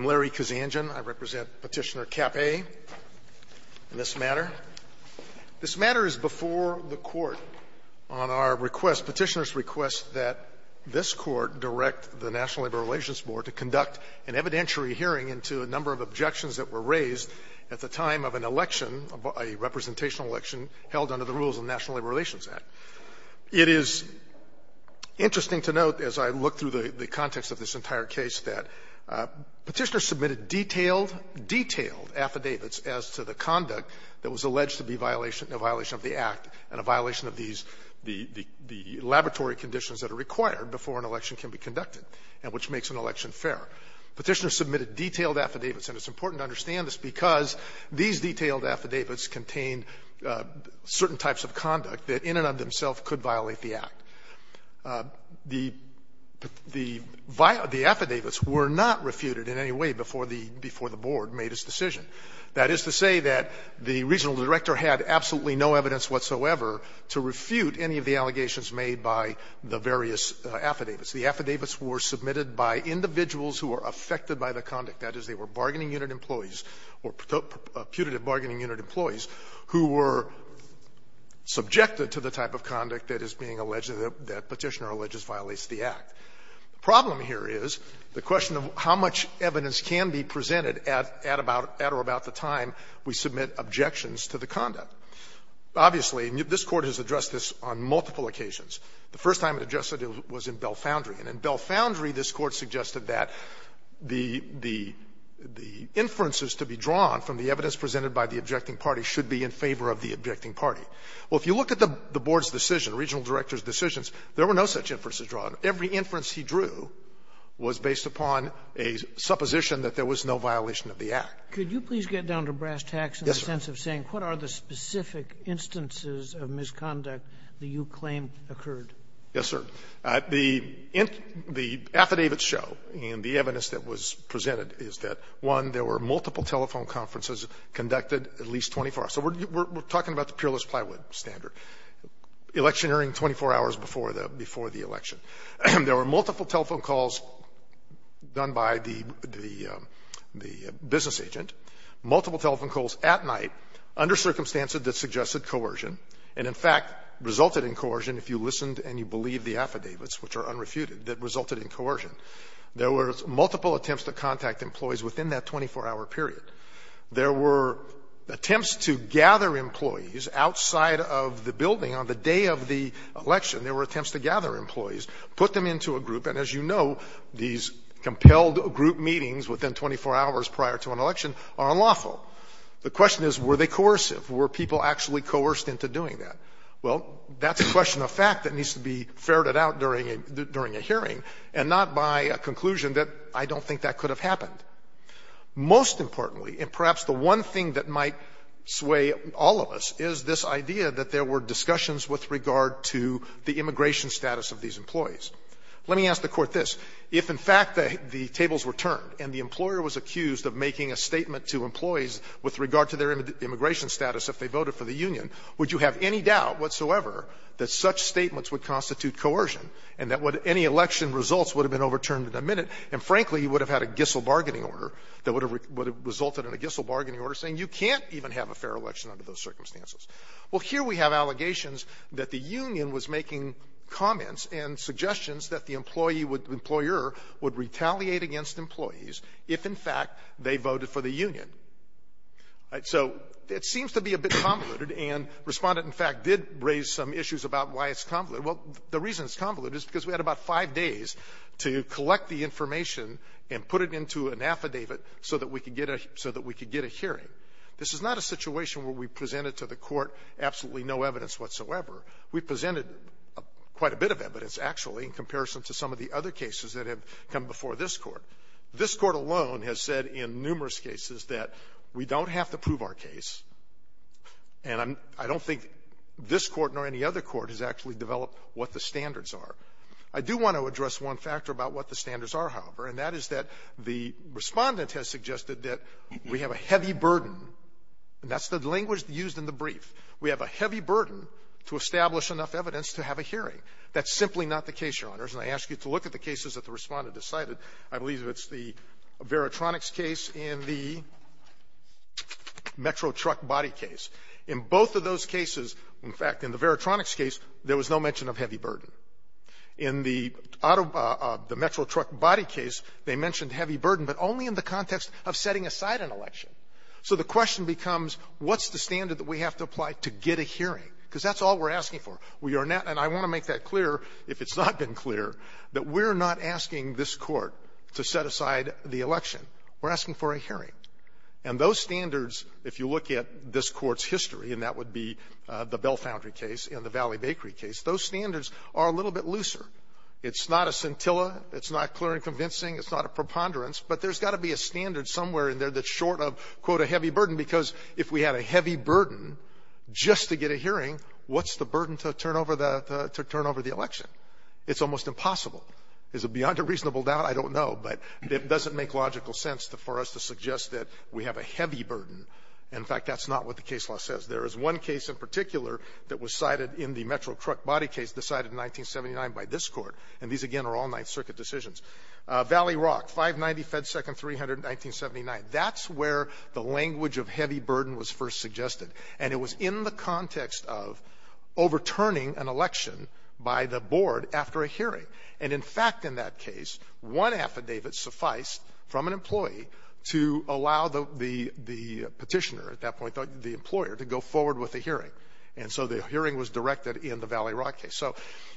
Larry Kazanjian. I represent Petitioner Capay in this matter. This matter is before the Court on our request, Petitioner's request, that this Court direct the National Labor Relations Board to conduct an evidentiary hearing into a number of objections that were raised at the time of an election, a representational election, held under the rules of the National Labor Relations Act. It is interesting to note, as I look through the context of this entire case, that Petitioner submitted detailed, detailed affidavits as to the conduct that was alleged to be violation, a violation of the Act and a violation of these, the laboratory conditions that are required before an election can be conducted, and which makes an election fair. Petitioner submitted detailed affidavits, and it's important to understand this because these detailed affidavits contain certain types of conduct that in and of themselves could violate the Act. The affidavits were not refuted in any way before the Board made its decision. That is to say that the regional director had absolutely no evidence whatsoever to refute any of the allegations made by the various affidavits. The affidavits were submitted by individuals who were affected by the conduct, that is, they were the bargaining unit employees, who were subjected to the type of conduct that is being alleged, that Petitioner alleges violates the Act. The problem here is the question of how much evidence can be presented at, at or about the time we submit objections to the conduct. Obviously, this Court has addressed this on multiple occasions. The first time it addressed it was in Belfoundry. And in Belfoundry, this Court said that any inferences to be drawn from the evidence presented by the objecting party should be in favor of the objecting party. Well, if you look at the Board's decision, regional director's decisions, there were no such inferences drawn. Every inference he drew was based upon a supposition that there was no violation of the Act. Sotomayor, could you please get down to brass tacks in the sense of saying what are the specific instances of misconduct that you claim occurred? Yes, sir. The affidavits show, and the evidence that was presented is that, one, there were multiple telephone conferences conducted at least 24 hours. So we're talking about the peerless plywood standard, electioneering 24 hours before the election. There were multiple telephone calls done by the, the business agent, multiple telephone calls at night under circumstances that suggested coercion and, in fact, resulted in coercion if you listened and you believed the affidavits, which are unrefuted, that resulted in coercion. There were multiple attempts to contact employees within that 24-hour period. There were attempts to gather employees outside of the building on the day of the election. There were attempts to gather employees, put them into a group, and as you know, these compelled group meetings within 24 hours prior to an election are unlawful. The question is, were they coercive? Were people actually coerced into doing that? Well, that's a question of fact that needs to be ferreted out during a hearing and not by a conclusion that, I don't think that could have happened. Most importantly, and perhaps the one thing that might sway all of us, is this idea that there were discussions with regard to the immigration status of these employees. Let me ask the Court this. If, in fact, the tables were turned and the employer was accused of making a statement to employees with regard to their immigration status if they voted for the union, would you have any doubt whatsoever that such statements would constitute coercion and that any election results would have been overturned in a minute and, frankly, you would have had a Gissel bargaining order that would have resulted in a Gissel bargaining order saying you can't even have a fair election under those circumstances? Well, here we have allegations that the union was making comments and suggestions that the employee would employer would retaliate against employees if, in fact, they voted for the union. All right. So it seems to be a bit convoluted, and Respondent, in fact, did raise some issues about why it's convoluted. Well, the reason it's convoluted is because we had about five days to collect the information and put it into an affidavit so that we could get a hearing. This is not a situation where we presented to the Court absolutely no evidence whatsoever. We presented quite a bit of evidence, actually, in comparison to some of the other cases that have come before this Court. This Court alone has said in numerous cases that we don't have to prove our case, and I'm – I don't think this Court nor any other court has actually developed what the standards are. I do want to address one factor about what the standards are, however, and that is that the Respondent has suggested that we have a heavy burden, and that's the language used in the brief. We have a heavy burden to establish enough evidence to have a hearing. That's simply not the case, Your Honors. And I ask you to look at the cases that the Respondent decided. I believe it's the Veritronics case and the Metro Truck Body case. In both of those cases, in fact, in the Veritronics case, there was no mention of heavy burden. In the Metro Truck Body case, they mentioned heavy burden, but only in the context of setting aside an election. So the question becomes, what's the standard that we have to apply to get a hearing? Because that's all we're asking for. We are not – and I want to make that clear, if it's not been clear, that we're not asking this Court to set aside the election. We're asking for a hearing. And those standards, if you look at this Court's history, and that would be the Bell Foundry case and the Valley Bakery case, those standards are a little bit looser. It's not a scintilla. It's not clear and convincing. It's not a preponderance. But there's got to be a standard somewhere in there that's short of, quote, a heavy burden, because if we had a heavy burden just to get a hearing, what's the burden to turn over the – to turn over the election? It's almost impossible. Is it beyond a reasonable doubt? I don't know. But it doesn't make logical sense for us to suggest that we have a heavy burden. In fact, that's not what the case law says. There is one case in particular that was cited in the Metro Truck Body case, decided in 1979 by this Court. And these, again, are all Ninth Circuit decisions. Valley Rock, 590 FedSecond 300, 1979. That's where the language of heavy burden was first suggested. And it was in the context of overturning an election by the board after a hearing. And, in fact, in that case, one affidavit sufficed from an employee to allow the petitioner at that point, the employer, to go forward with a hearing. And so the hearing was directed in the Valley Rock case. So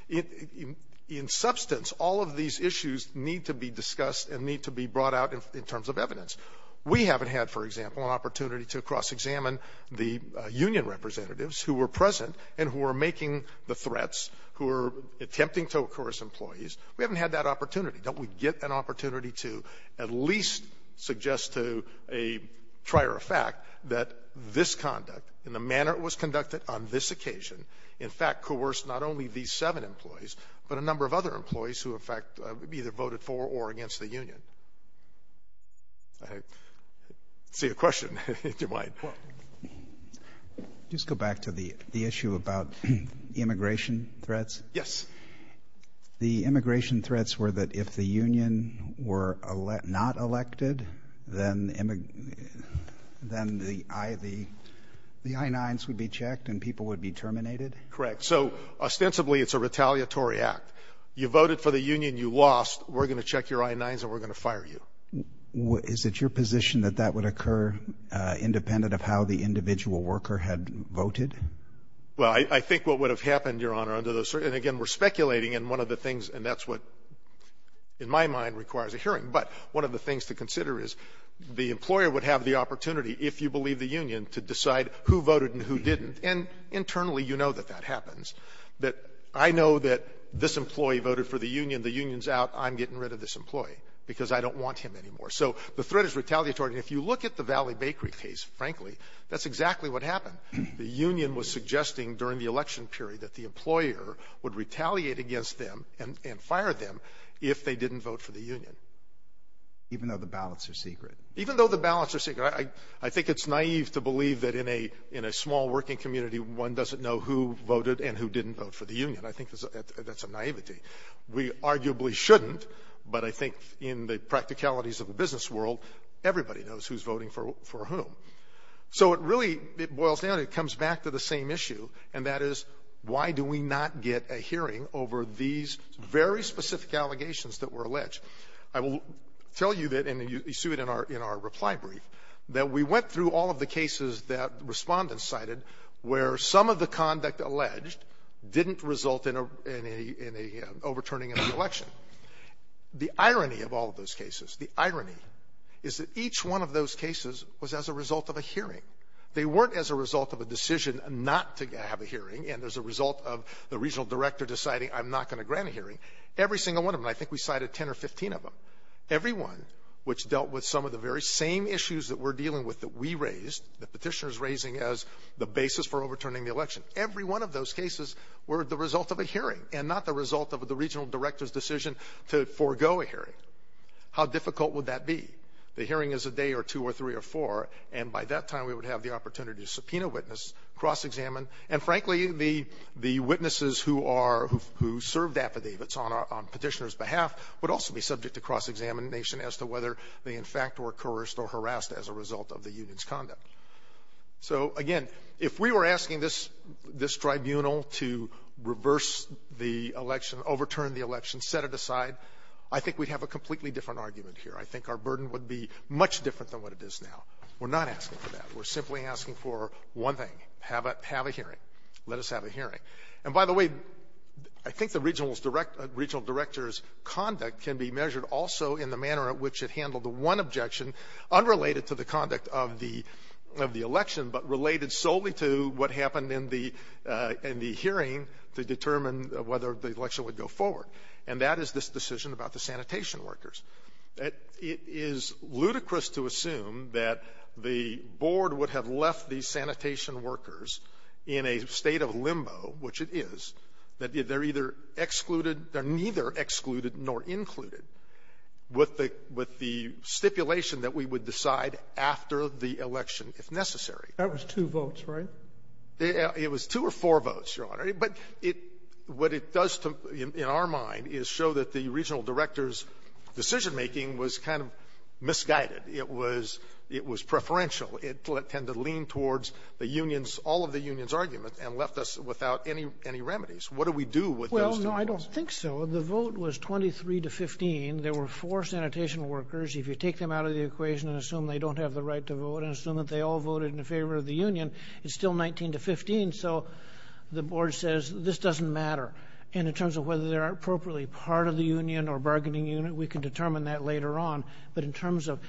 in substance, all of these issues need to be discussed and need to be brought out in terms of evidence. We haven't had, for example, an opportunity to cross-examine the union representatives who were present and who were making the threats, who were attempting to coerce employees. We haven't had that opportunity. Don't we get an opportunity to at least suggest to a trier of fact that this conduct in the manner it was conducted on this occasion, in fact, coerced not only these seven employees, but a number of other employees who, in fact, either voted for or against the union? I see a question, if you might. Just go back to the issue about immigration threats. Yes. The immigration threats were that if the union were not elected, then the I-9s would be checked and people would be terminated? Correct. So, ostensibly, it's a retaliatory act. You voted for the union, you lost. We're going to check your I-9s and we're going to fire you. Is it your position that that would occur independent of how the individual worker had voted? Well, I think what would have happened, Your Honor, under those circumstances, and again, we're speculating, and one of the things, and that's what in my mind requires a hearing, but one of the things to consider is the employer would have the opportunity, if you believe the union, to decide who voted and who didn't. And internally, you know that that happens, that I know that this employee voted for the union. The union's out. I'm getting rid of this employee because I don't want him anymore. So, the threat is retaliatory. And if you look at the Valley Bakery case, frankly, that's exactly what happened. The union was suggesting during the election period that the employer would retaliate against them and fire them if they didn't vote for the union. Even though the ballots are secret? Even though the ballots are secret. I think it's naive to believe that in a small working community, one doesn't know who voted and who didn't vote for the union. I think that's a naivety. We arguably shouldn't, but I think in the practicalities of the business world, everybody knows who's voting for whom. So it really, it boils down, it comes back to the same issue, and that is, why do we not get a hearing over these very specific allegations that were alleged? I will tell you that, and you see it in our reply brief, that we went through all of the cases that respondents cited where some of the conduct alleged didn't result in an overturning of the election. The irony of all of those cases, the irony is that each one of those cases was as a result of a hearing. They weren't as a result of a decision not to have a hearing, and as a result of the regional director deciding I'm not going to grant a hearing. Every single one of them, and I think we cited 10 or 15 of them, every one which dealt with some of the very same issues that we're dealing with that we raised, the petitioners raising as the basis for overturning the election. Every one of those cases were the result of a hearing, and not the result of the regional director's decision to forego a hearing. How difficult would that be? The hearing is a day or two or three or four, and by that time, we would have the opportunity to subpoena witness, cross-examine. And frankly, the witnesses who served affidavits on petitioner's behalf would also be subject to cross-examination as to whether they, in fact, were coerced or harassed as a result of the union's conduct. So again, if we were asking this tribunal to reverse the election, overturn the election, set it aside, I think we'd have a completely different argument here, I think our burden would be much different than what it is now. We're not asking for that, we're simply asking for one thing, have a hearing. Let us have a hearing. And by the way, I think the regional director's conduct can be measured also in the manner in which it handled the one objection, unrelated to the conduct of the election, but related solely to what happened in the hearing to determine whether the election would go forward. And that is this decision about the sanitation workers. It is ludicrous to assume that the board would have left these sanitation workers in a state of limbo, which it is, that they're either excluded, they're neither excluded nor included, with the stipulation that we would decide after the election if necessary. That was two votes, right? It was two or four votes, Your Honor. But what it does in our mind is show that the regional director's decision-making was kind of misguided. It was preferential. It tended to lean towards the union's, all of the union's argument, and left us without any remedies. What do we do with those two votes? Well, no, I don't think so. The vote was 23 to 15. There were four sanitation workers. If you take them out of the equation and assume they don't have the right to vote and assume that they all voted in favor of the union, it's still 19 to 15. So the board says, this doesn't matter. And in terms of whether they're appropriately part of the union or bargaining unit, we can determine that later on. But in terms of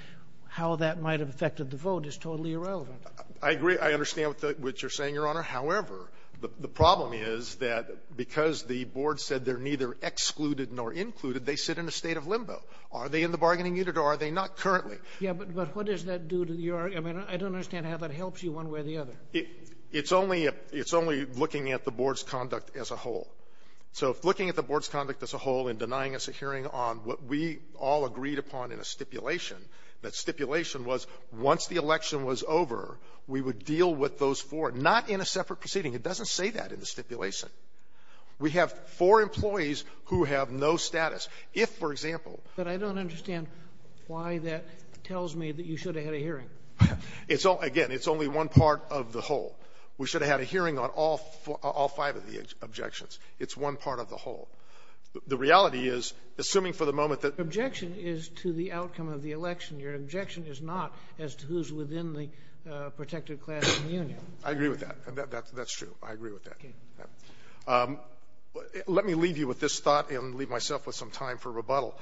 how that might have affected the vote is totally irrelevant. I agree. I understand what you're saying, Your Honor. However, the problem is that because the board said they're neither excluded nor included, they sit in a state of limbo. Are they in the bargaining unit or are they not currently? Yeah, but what does that do to your argument? I don't understand how that helps you one way or the other. It's only looking at the board's conduct as a whole. So looking at the board's conduct as a whole and denying us a hearing on what we all agreed upon in a stipulation, that stipulation was once the election was over, we would deal with those four, not in a separate proceeding. It doesn't say that in the stipulation. We have four employees who have no status. If, for example — But I don't understand why that tells me that you should have had a hearing. It's all — again, it's only one part of the whole. We should have had a hearing on all five of the objections. It's one part of the whole. The reality is, assuming for the moment that — Your objection is to the outcome of the election. Your objection is not as to who's within the protected class of union. I agree with that. That's true. I agree with that. Okay. Let me leave you with this thought and leave myself with some time for rebuttal.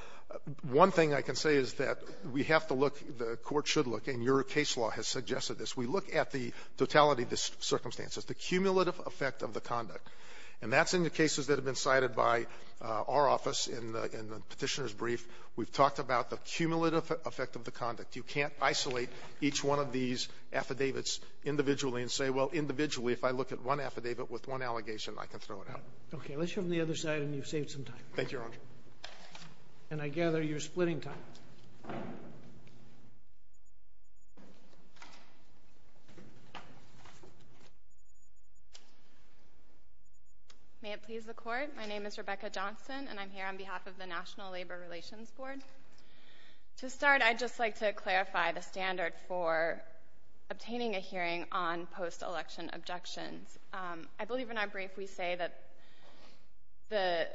One thing I can say is that we have to look, the Court should look, and your case law has suggested this, we look at the totality of the circumstances, the cumulative effect of the conduct. And that's in the cases that have been cited by our office in the Petitioner's Brief. We've talked about the cumulative effect of the conduct. You can't isolate each one of these affidavits individually and say, well, individually, if I look at one affidavit with one allegation, I can throw it out. Okay. Let's show them the other side, and you've saved some time. Thank you, Your Honor. And I gather you're splitting time. May it please the Court? My name is Rebecca Johnson, and I'm here on behalf of the National Labor Relations Board. To start, I'd just like to clarify the standard for obtaining a hearing on post-election objections. I believe in our brief, we say that the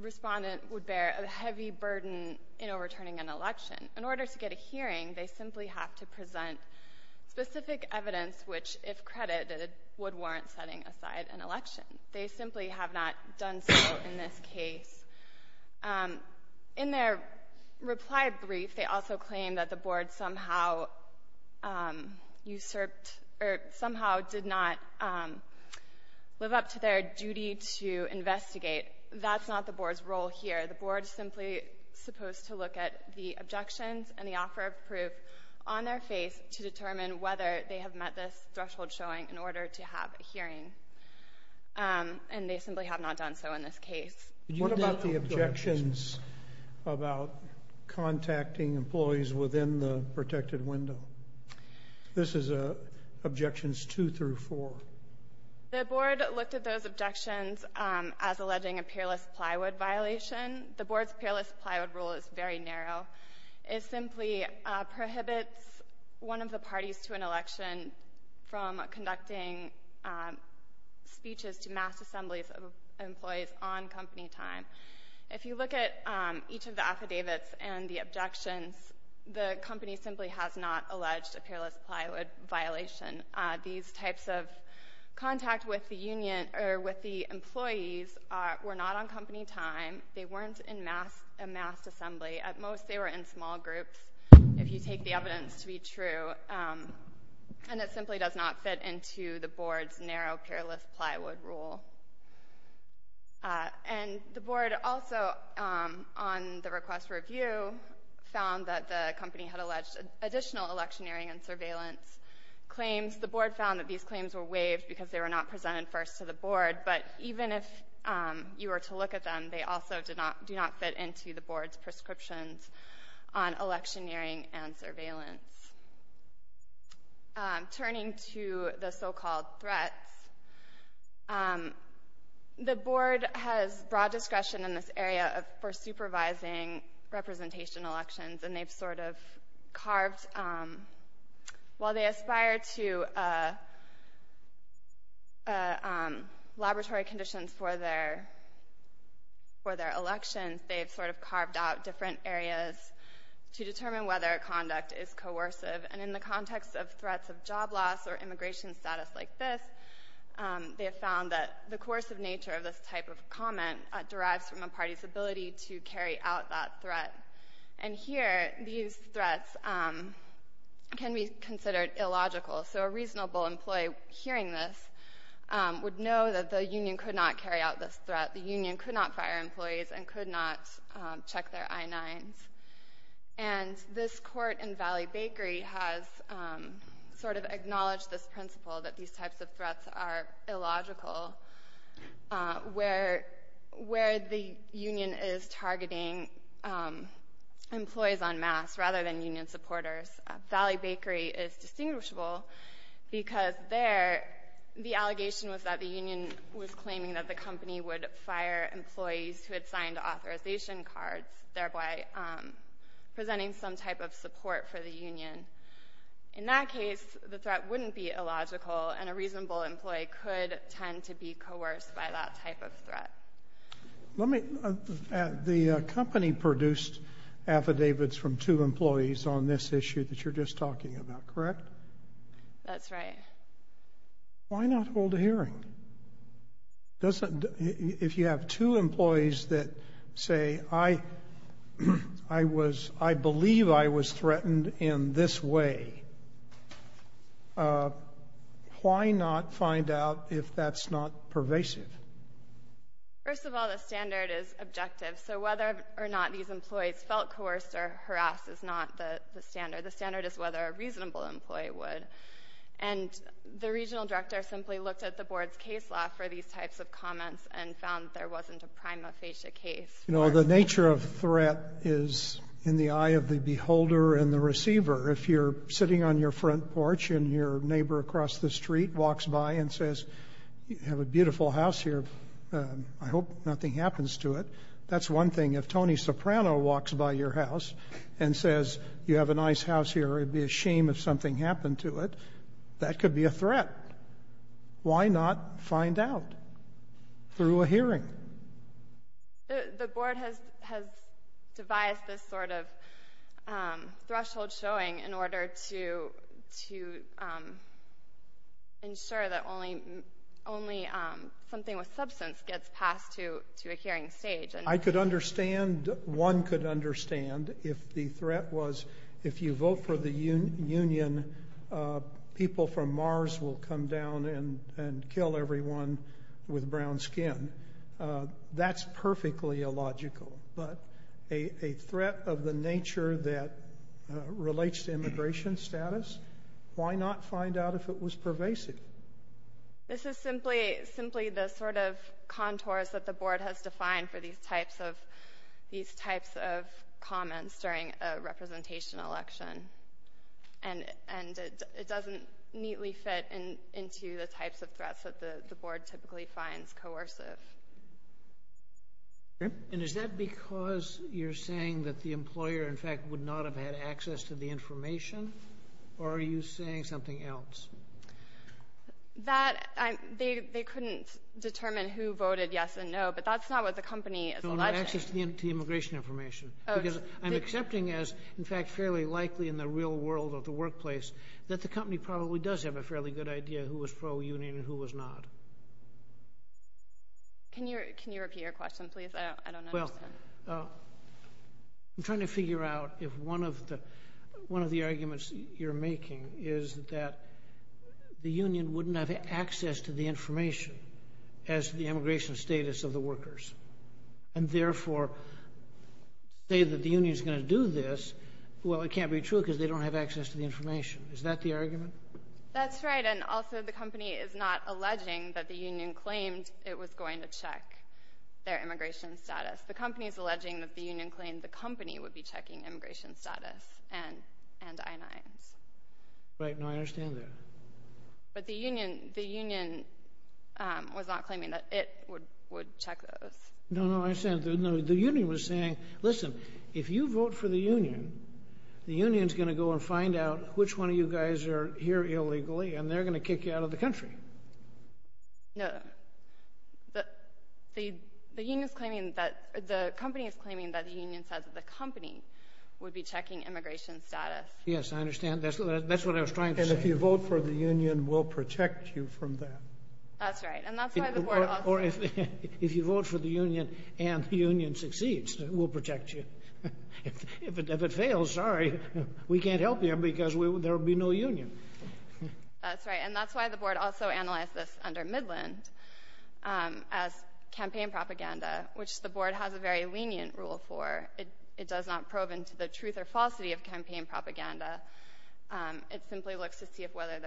respondent would bear a heavy burden in overturning an election. In order to get a hearing, they simply have to present specific evidence which, if credited, would warrant setting aside an election. They simply have not done so in this case. In their reply brief, they also claim that the Board somehow usurped, or somehow did not live up to their duty to investigate. That's not the Board's role here. The Board is simply supposed to look at the objections and the offer of proof on their face to determine whether they have met this threshold showing in order to have a hearing. And they simply have not done so in this case. What about the objections about contacting employees within the protected window? This is Objections 2 through 4. The Board looked at those objections as alleging a peerless plywood violation. The Board's peerless plywood rule is very narrow. It simply prohibits one of the parties to an election from conducting speeches to mass assembly at any time. If you look at each of the affidavits and the objections, the company simply has not alleged a peerless plywood violation. These types of contact with the employees were not on company time. They weren't in mass assembly. At most, they were in small groups, if you take the evidence to be true. And it simply does not fit into the Board's narrow peerless plywood rule. And the Board also, on the request for review, found that the company had alleged additional electioneering and surveillance claims. The Board found that these claims were waived because they were not presented first to the Board. But even if you were to look at them, they also do not fit into the Board's prescriptions on electioneering and surveillance. Turning to the so-called threats, the Board has broad discretion in this area for supervising representation elections. And they've sort of carved, while they aspire to laboratory conditions for their elections, they've sort of carved out different areas to determine whether a conduct is coercive. And in the context of threats of job loss or immigration status like this, they have found that the coercive nature of this type of comment derives from a party's ability to carry out that threat. And here, these threats can be considered illogical. So a reasonable employee hearing this would know that the union could not carry out this threat. That the union could not fire employees and could not check their I-9s. And this court in Valley Bakery has sort of acknowledged this principle that these types of threats are illogical where the union is targeting employees en masse rather than union supporters. Valley Bakery is distinguishable because there, the allegation was that the union was claiming that the company would fire employees who had signed authorization cards, thereby presenting some type of support for the union. In that case, the threat wouldn't be illogical and a reasonable employee could tend to be coerced by that type of threat. The company produced affidavits from two employees on this issue that you're just talking about, correct? That's right. Why not hold a hearing? If you have two employees that say, I believe I was threatened in this way, why not find out if that's not pervasive? First of all, the standard is objective. So whether or not these employees felt coerced or harassed is not the standard. The standard is whether a reasonable employee would. And the regional director simply looked at the board's case law for these types of comments and found there wasn't a prima facie case. The nature of threat is in the eye of the beholder and the receiver. If you're sitting on your front porch and your neighbor across the street walks by and says, you have a beautiful house here, I hope nothing happens to it. That's one thing. If Tony Soprano walks by your house and says, you have a nice house here, it'd be a shame if something happened to it, that could be a threat. Why not find out through a hearing? The board has devised this sort of threshold showing in order to ensure that only something with substance gets passed to a hearing stage. I could understand, one could understand, if the threat was if you vote for the union, people from Mars will come down and kill everyone with brown skin. That's perfectly illogical, but a threat of the nature that relates to immigration status, why not find out if it was pervasive? This is simply the sort of contours that the board has defined for these types of comments during a representation election. It doesn't neatly fit into the types of threats that the board typically finds coercive. Is that because you're saying that the employer, in fact, would not have had access to the information? Or are you saying something else? They couldn't determine who voted yes and no, but that's not what the company is alleging. No, no, access to the immigration information. Because I'm accepting as, in fact, fairly likely in the real world of the workplace that the company probably does have a fairly good idea of who was pro-union and who was not. Can you repeat your question, please? I don't understand. I'm trying to figure out if one of the arguments you're making is that the union wouldn't have access to the information as to the immigration status of the workers, and therefore say that the union's going to do this. Well, it can't be true because they don't have access to the information. Is that the argument? That's right, and also the company is not alleging that the union claimed it was going to check their immigration status. The company is alleging that the union claimed the company would be checking immigration status and I-9s. Right, no, I understand that. But the union was not claiming that it would check those. No, no, I understand. The union was saying, listen, if you vote for the union, the union's going to go and find out which one of you guys are here illegally, and they're going to kick you out of the country. No, no. The company is claiming that the union says the company would be checking immigration status. Yes, I understand. That's what I was trying to say. And if you vote for the union, we'll protect you from that. That's right, and that's why the board also- Or if you vote for the union and the union succeeds, we'll protect you. If it fails, sorry, we can't help you because there will be no union. That's right, and that's why the board also analyzed this under Midland. As campaign propaganda, which the board has a very lenient rule for. It does not probe into the truth or falsity of campaign propaganda. It simply looks to see whether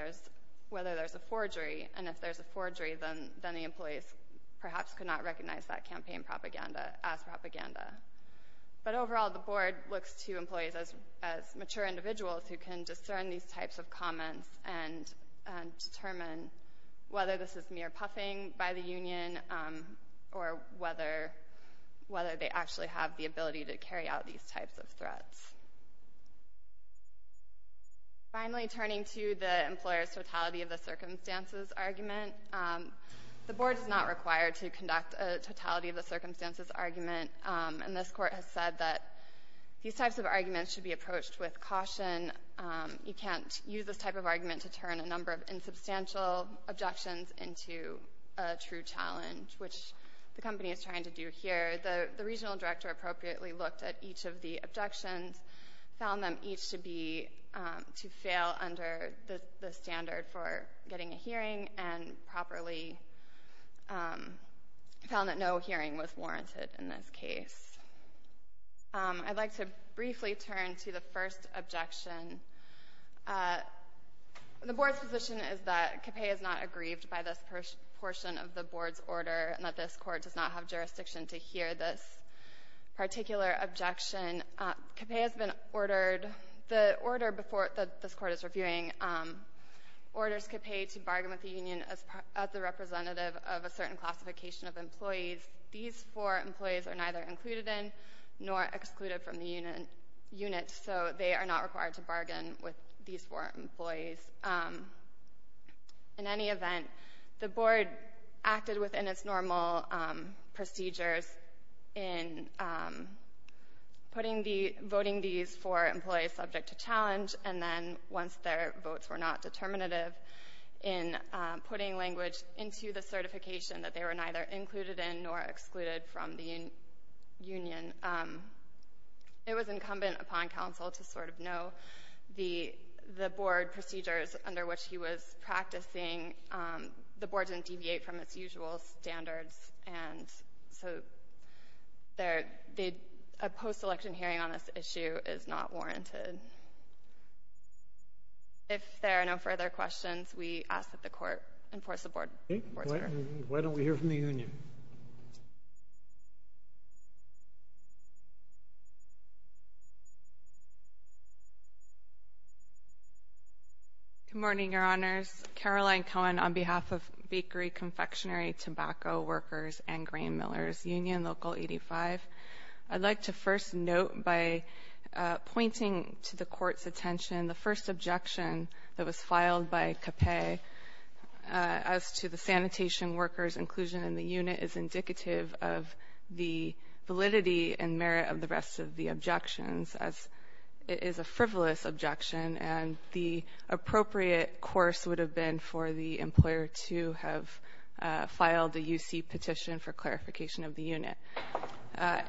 there's a forgery, and if there's a forgery, then the employees perhaps could not recognize that campaign propaganda as propaganda. But overall, the board looks to employees as mature individuals who can discern these by the union or whether they actually have the ability to carry out these types of threats. Finally, turning to the employer's totality of the circumstances argument. The board is not required to conduct a totality of the circumstances argument. And this court has said that these types of arguments should be approached with caution. You can't use this type of argument to turn a number of insubstantial objections into a true challenge, which the company is trying to do here. The regional director appropriately looked at each of the objections, found them each to fail under the standard for getting a hearing, and properly found that no hearing was warranted in this case. I'd like to briefly turn to the first objection. The board's position is that Capay is not aggrieved by this portion of the board's order, and that this court does not have jurisdiction to hear this particular objection. Capay has been ordered, the order that this court is reviewing, orders Capay to bargain with the union as the representative of a certain classification of employees. These four employees are neither included in nor excluded from the unit, so they are not required to bargain with these four employees. In any event, the board acted within its normal procedures in voting these four employees subject to challenge, and then once their votes were not determinative, in putting language into the certification that they were neither included in nor excluded from the union, it was incumbent upon counsel to sort of know the board procedures under which he was practicing. The board didn't deviate from its usual standards, and so a post-election hearing on this issue is not warranted. If there are no further questions, we ask that the court enforce the board's order. Okay. Why don't we hear from the union? Good morning, Your Honors. Caroline Cohen on behalf of Bakery, Confectionery, Tobacco, Workers, and Grain Millers, Union Local 85. I'd like to first note, by pointing to the court's attention, the first objection that was filed by Capay as to the sanitation workers' inclusion in the unit is indicative of the validity and merit of the rest of the objections, as it is a frivolous objection, and the appropriate course would have been for the employer to have filed a UC petition for clarification of the unit. That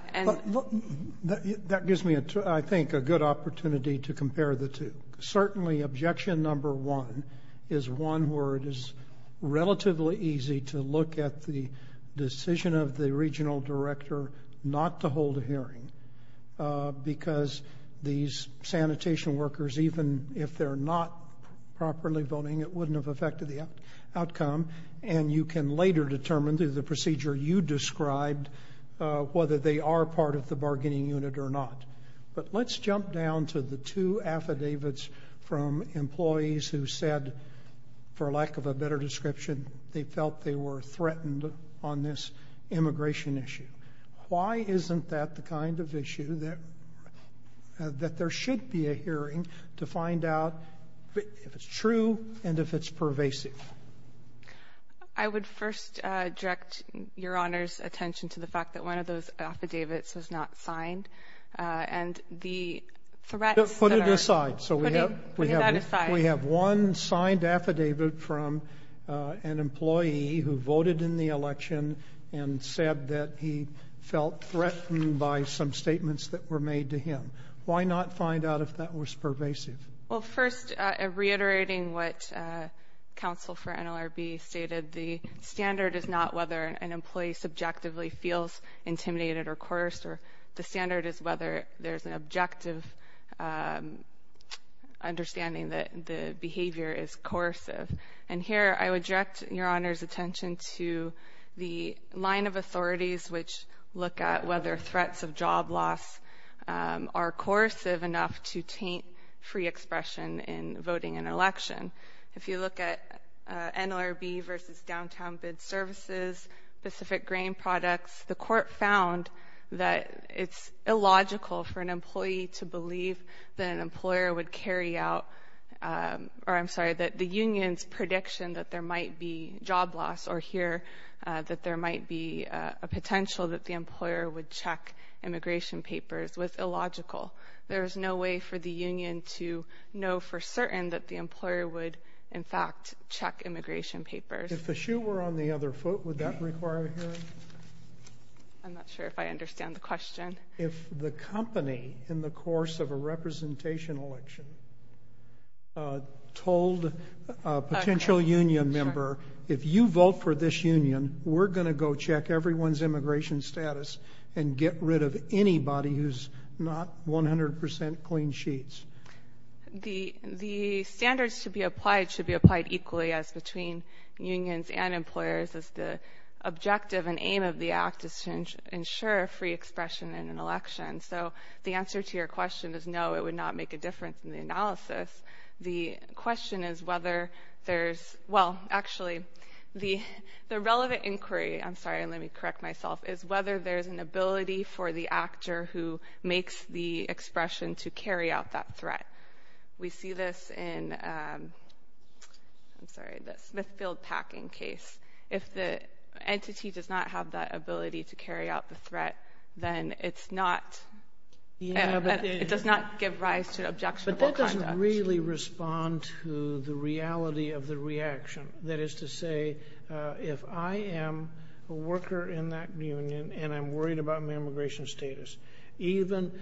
gives me, I think, a good opportunity to compare the two. Certainly, objection number one is one where it is relatively easy to look at the decision of the regional director not to hold a hearing because these sanitation workers, even if they're not properly voting, it wouldn't have affected the outcome, and you can later determine, through the procedure you described, whether they are part of the bargaining unit or not. But let's jump down to the two affidavits from employees who said, for lack of a better description, they felt they were threatened on this immigration issue. Why isn't that the kind of issue that there should be a hearing to find out if it's true and if it's pervasive? I would first direct Your Honor's attention to the fact that one of those affidavits was not signed, and the threats that are putting that aside. We have one signed affidavit from an employee who voted in the election and said that he felt threatened by some statements that were made to him. Why not find out if that was pervasive? Well, first, reiterating what counsel for NLRB stated, the standard is not whether an employee subjectively feels intimidated or coerced. The standard is whether there's an objective understanding that the behavior is coercive. And here I would direct Your Honor's attention to the line of authorities which look at whether threats of job loss are coercive enough to taint free expression in voting in an election. If you look at NLRB versus Downtown Bid Services, Pacific Grain Products, the court found that it's illogical for an employee to believe that an employer would carry out or I'm sorry, that the union's prediction that there might be job loss or hear that there might be a potential that the employer would check immigration papers was illogical. There is no way for the union to know for certain that the employer would, in fact, check immigration papers. If the shoe were on the other foot, would that require a hearing? I'm not sure if I understand the question. If the company in the course of a representation election told a potential union member, if you vote for this union, we're going to go check everyone's immigration status and get rid of anybody who's not 100 percent clean sheets. The standards should be applied equally as between unions and employers as the objective and aim of the act is to ensure free expression in an election. So the answer to your question is no, it would not make a difference in the analysis. The question is whether there's, well, actually, the relevant inquiry, I'm sorry, let me correct myself, is whether there's an ability for the actor who makes the expression to carry out that threat. We see this in, I'm sorry, the Smithfield packing case. If the entity does not have that ability to carry out the threat, then it's not, it does not give rise to objectionable conduct. But that doesn't really respond to the reality of the reaction. That is to say, if I am a worker in that union and I'm worried about my immigration status, even,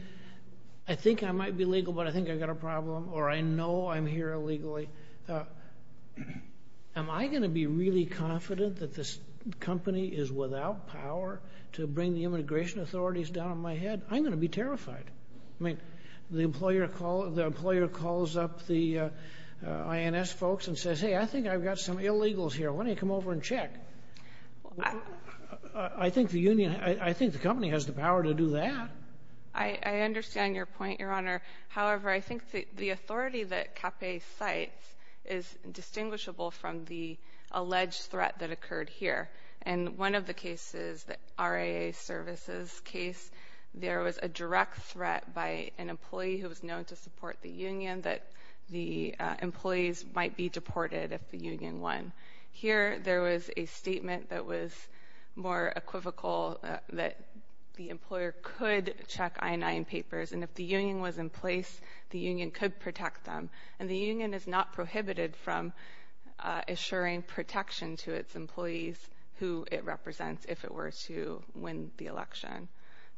I think I might be legal but I think I've got a problem, or I know I'm here illegally, am I going to be really confident that this company is without power to bring the immigration authorities down on my head? I'm going to be terrified. I mean, the employer calls up the INS folks and says, hey, I think I've got some illegals here, why don't you come over and check? I think the union, I think the company has the power to do that. I understand your point, Your Honor. However, I think the authority that CAPE cites is distinguishable from the alleged threat that occurred here. In one of the cases, the RAA services case, there was a direct threat by an employee who was known to support the union that the employees might be deported if the union won. Here, there was a statement that was more equivocal that the employer could check I-9 papers, and if the union was in place, the union could protect them. And the union is not prohibited from assuring protection to its employees who it represents if it were to win the election.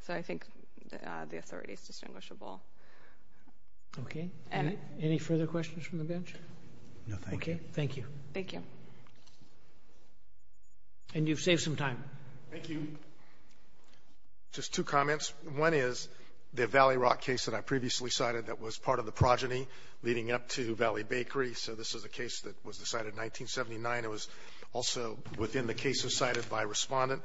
So I think the authority is distinguishable. Okay. Any further questions from the bench? No, thank you. Okay, thank you. Thank you. And you've saved some time. Thank you. Just two comments. One is the Valley Rock case that I previously cited that was part of the progeny leading up to Valley Bakery. So this is a case that was decided in 1979. It was also within the cases cited by a respondent.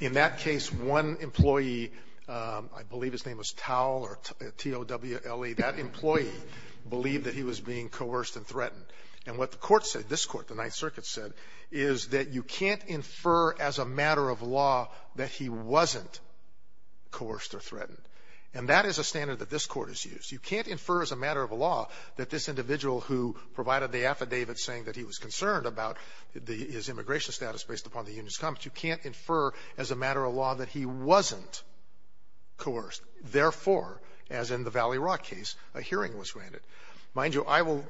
In that case, one employee, I believe his name was Towle or T-O-W-L-E, that employee believed that he was being coerced and threatened. And what the court said, this court, the Ninth Circuit said, is that you can't infer as a matter of law that he wasn't coerced or threatened. And that is a standard that this court has used. You can't infer as a matter of law that this individual who provided the affidavit saying that he was concerned about his immigration status based upon the union's comments, you can't infer as a matter of law that he wasn't coerced. Therefore, as in the Valley Rock case, a hearing was granted. Mind you, I would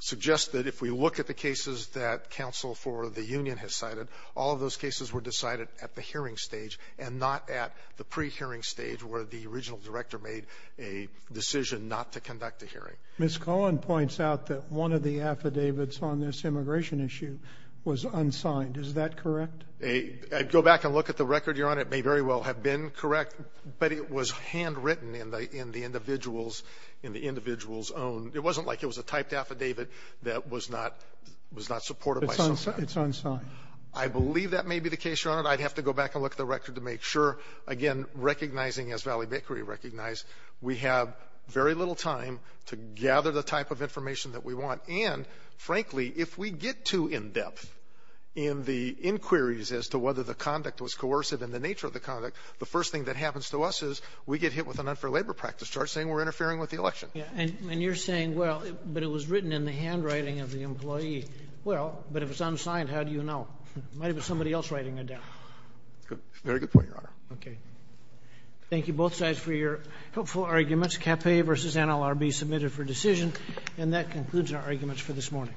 suggest that if we look at the cases that counsel for the union has cited, all of those cases were decided at the hearing stage and not at the pre-hearing stage where the original director made a decision not to conduct a hearing. Ms. Cohen points out that one of the affidavits on this immigration issue was unsigned. Is that correct? Go back and look at the record, Your Honor. It may very well have been correct, but it was handwritten in the individual's own. It wasn't like it was a typed affidavit that was not supported by somebody. It's unsigned. I believe that may be the case, Your Honor. I'd have to go back and look at the record to make sure. Again, recognizing, as Valley Bakery recognized, we have very little time to gather the type of information that we want. And, frankly, if we get too in-depth in the inquiries as to whether the conduct was coercive and the nature of the conduct, the first thing that happens to us is we get hit with an unfair labor practice charge saying we're interfering with the election. And you're saying, well, but it was written in the handwriting of the employee. Well, but if it's unsigned, how do you know? It might have been somebody else writing it down. Very good point, Your Honor. Okay. Thank you, both sides, for your helpful arguments. CAPE versus NLRB submitted for decision. And that concludes our arguments for this morning.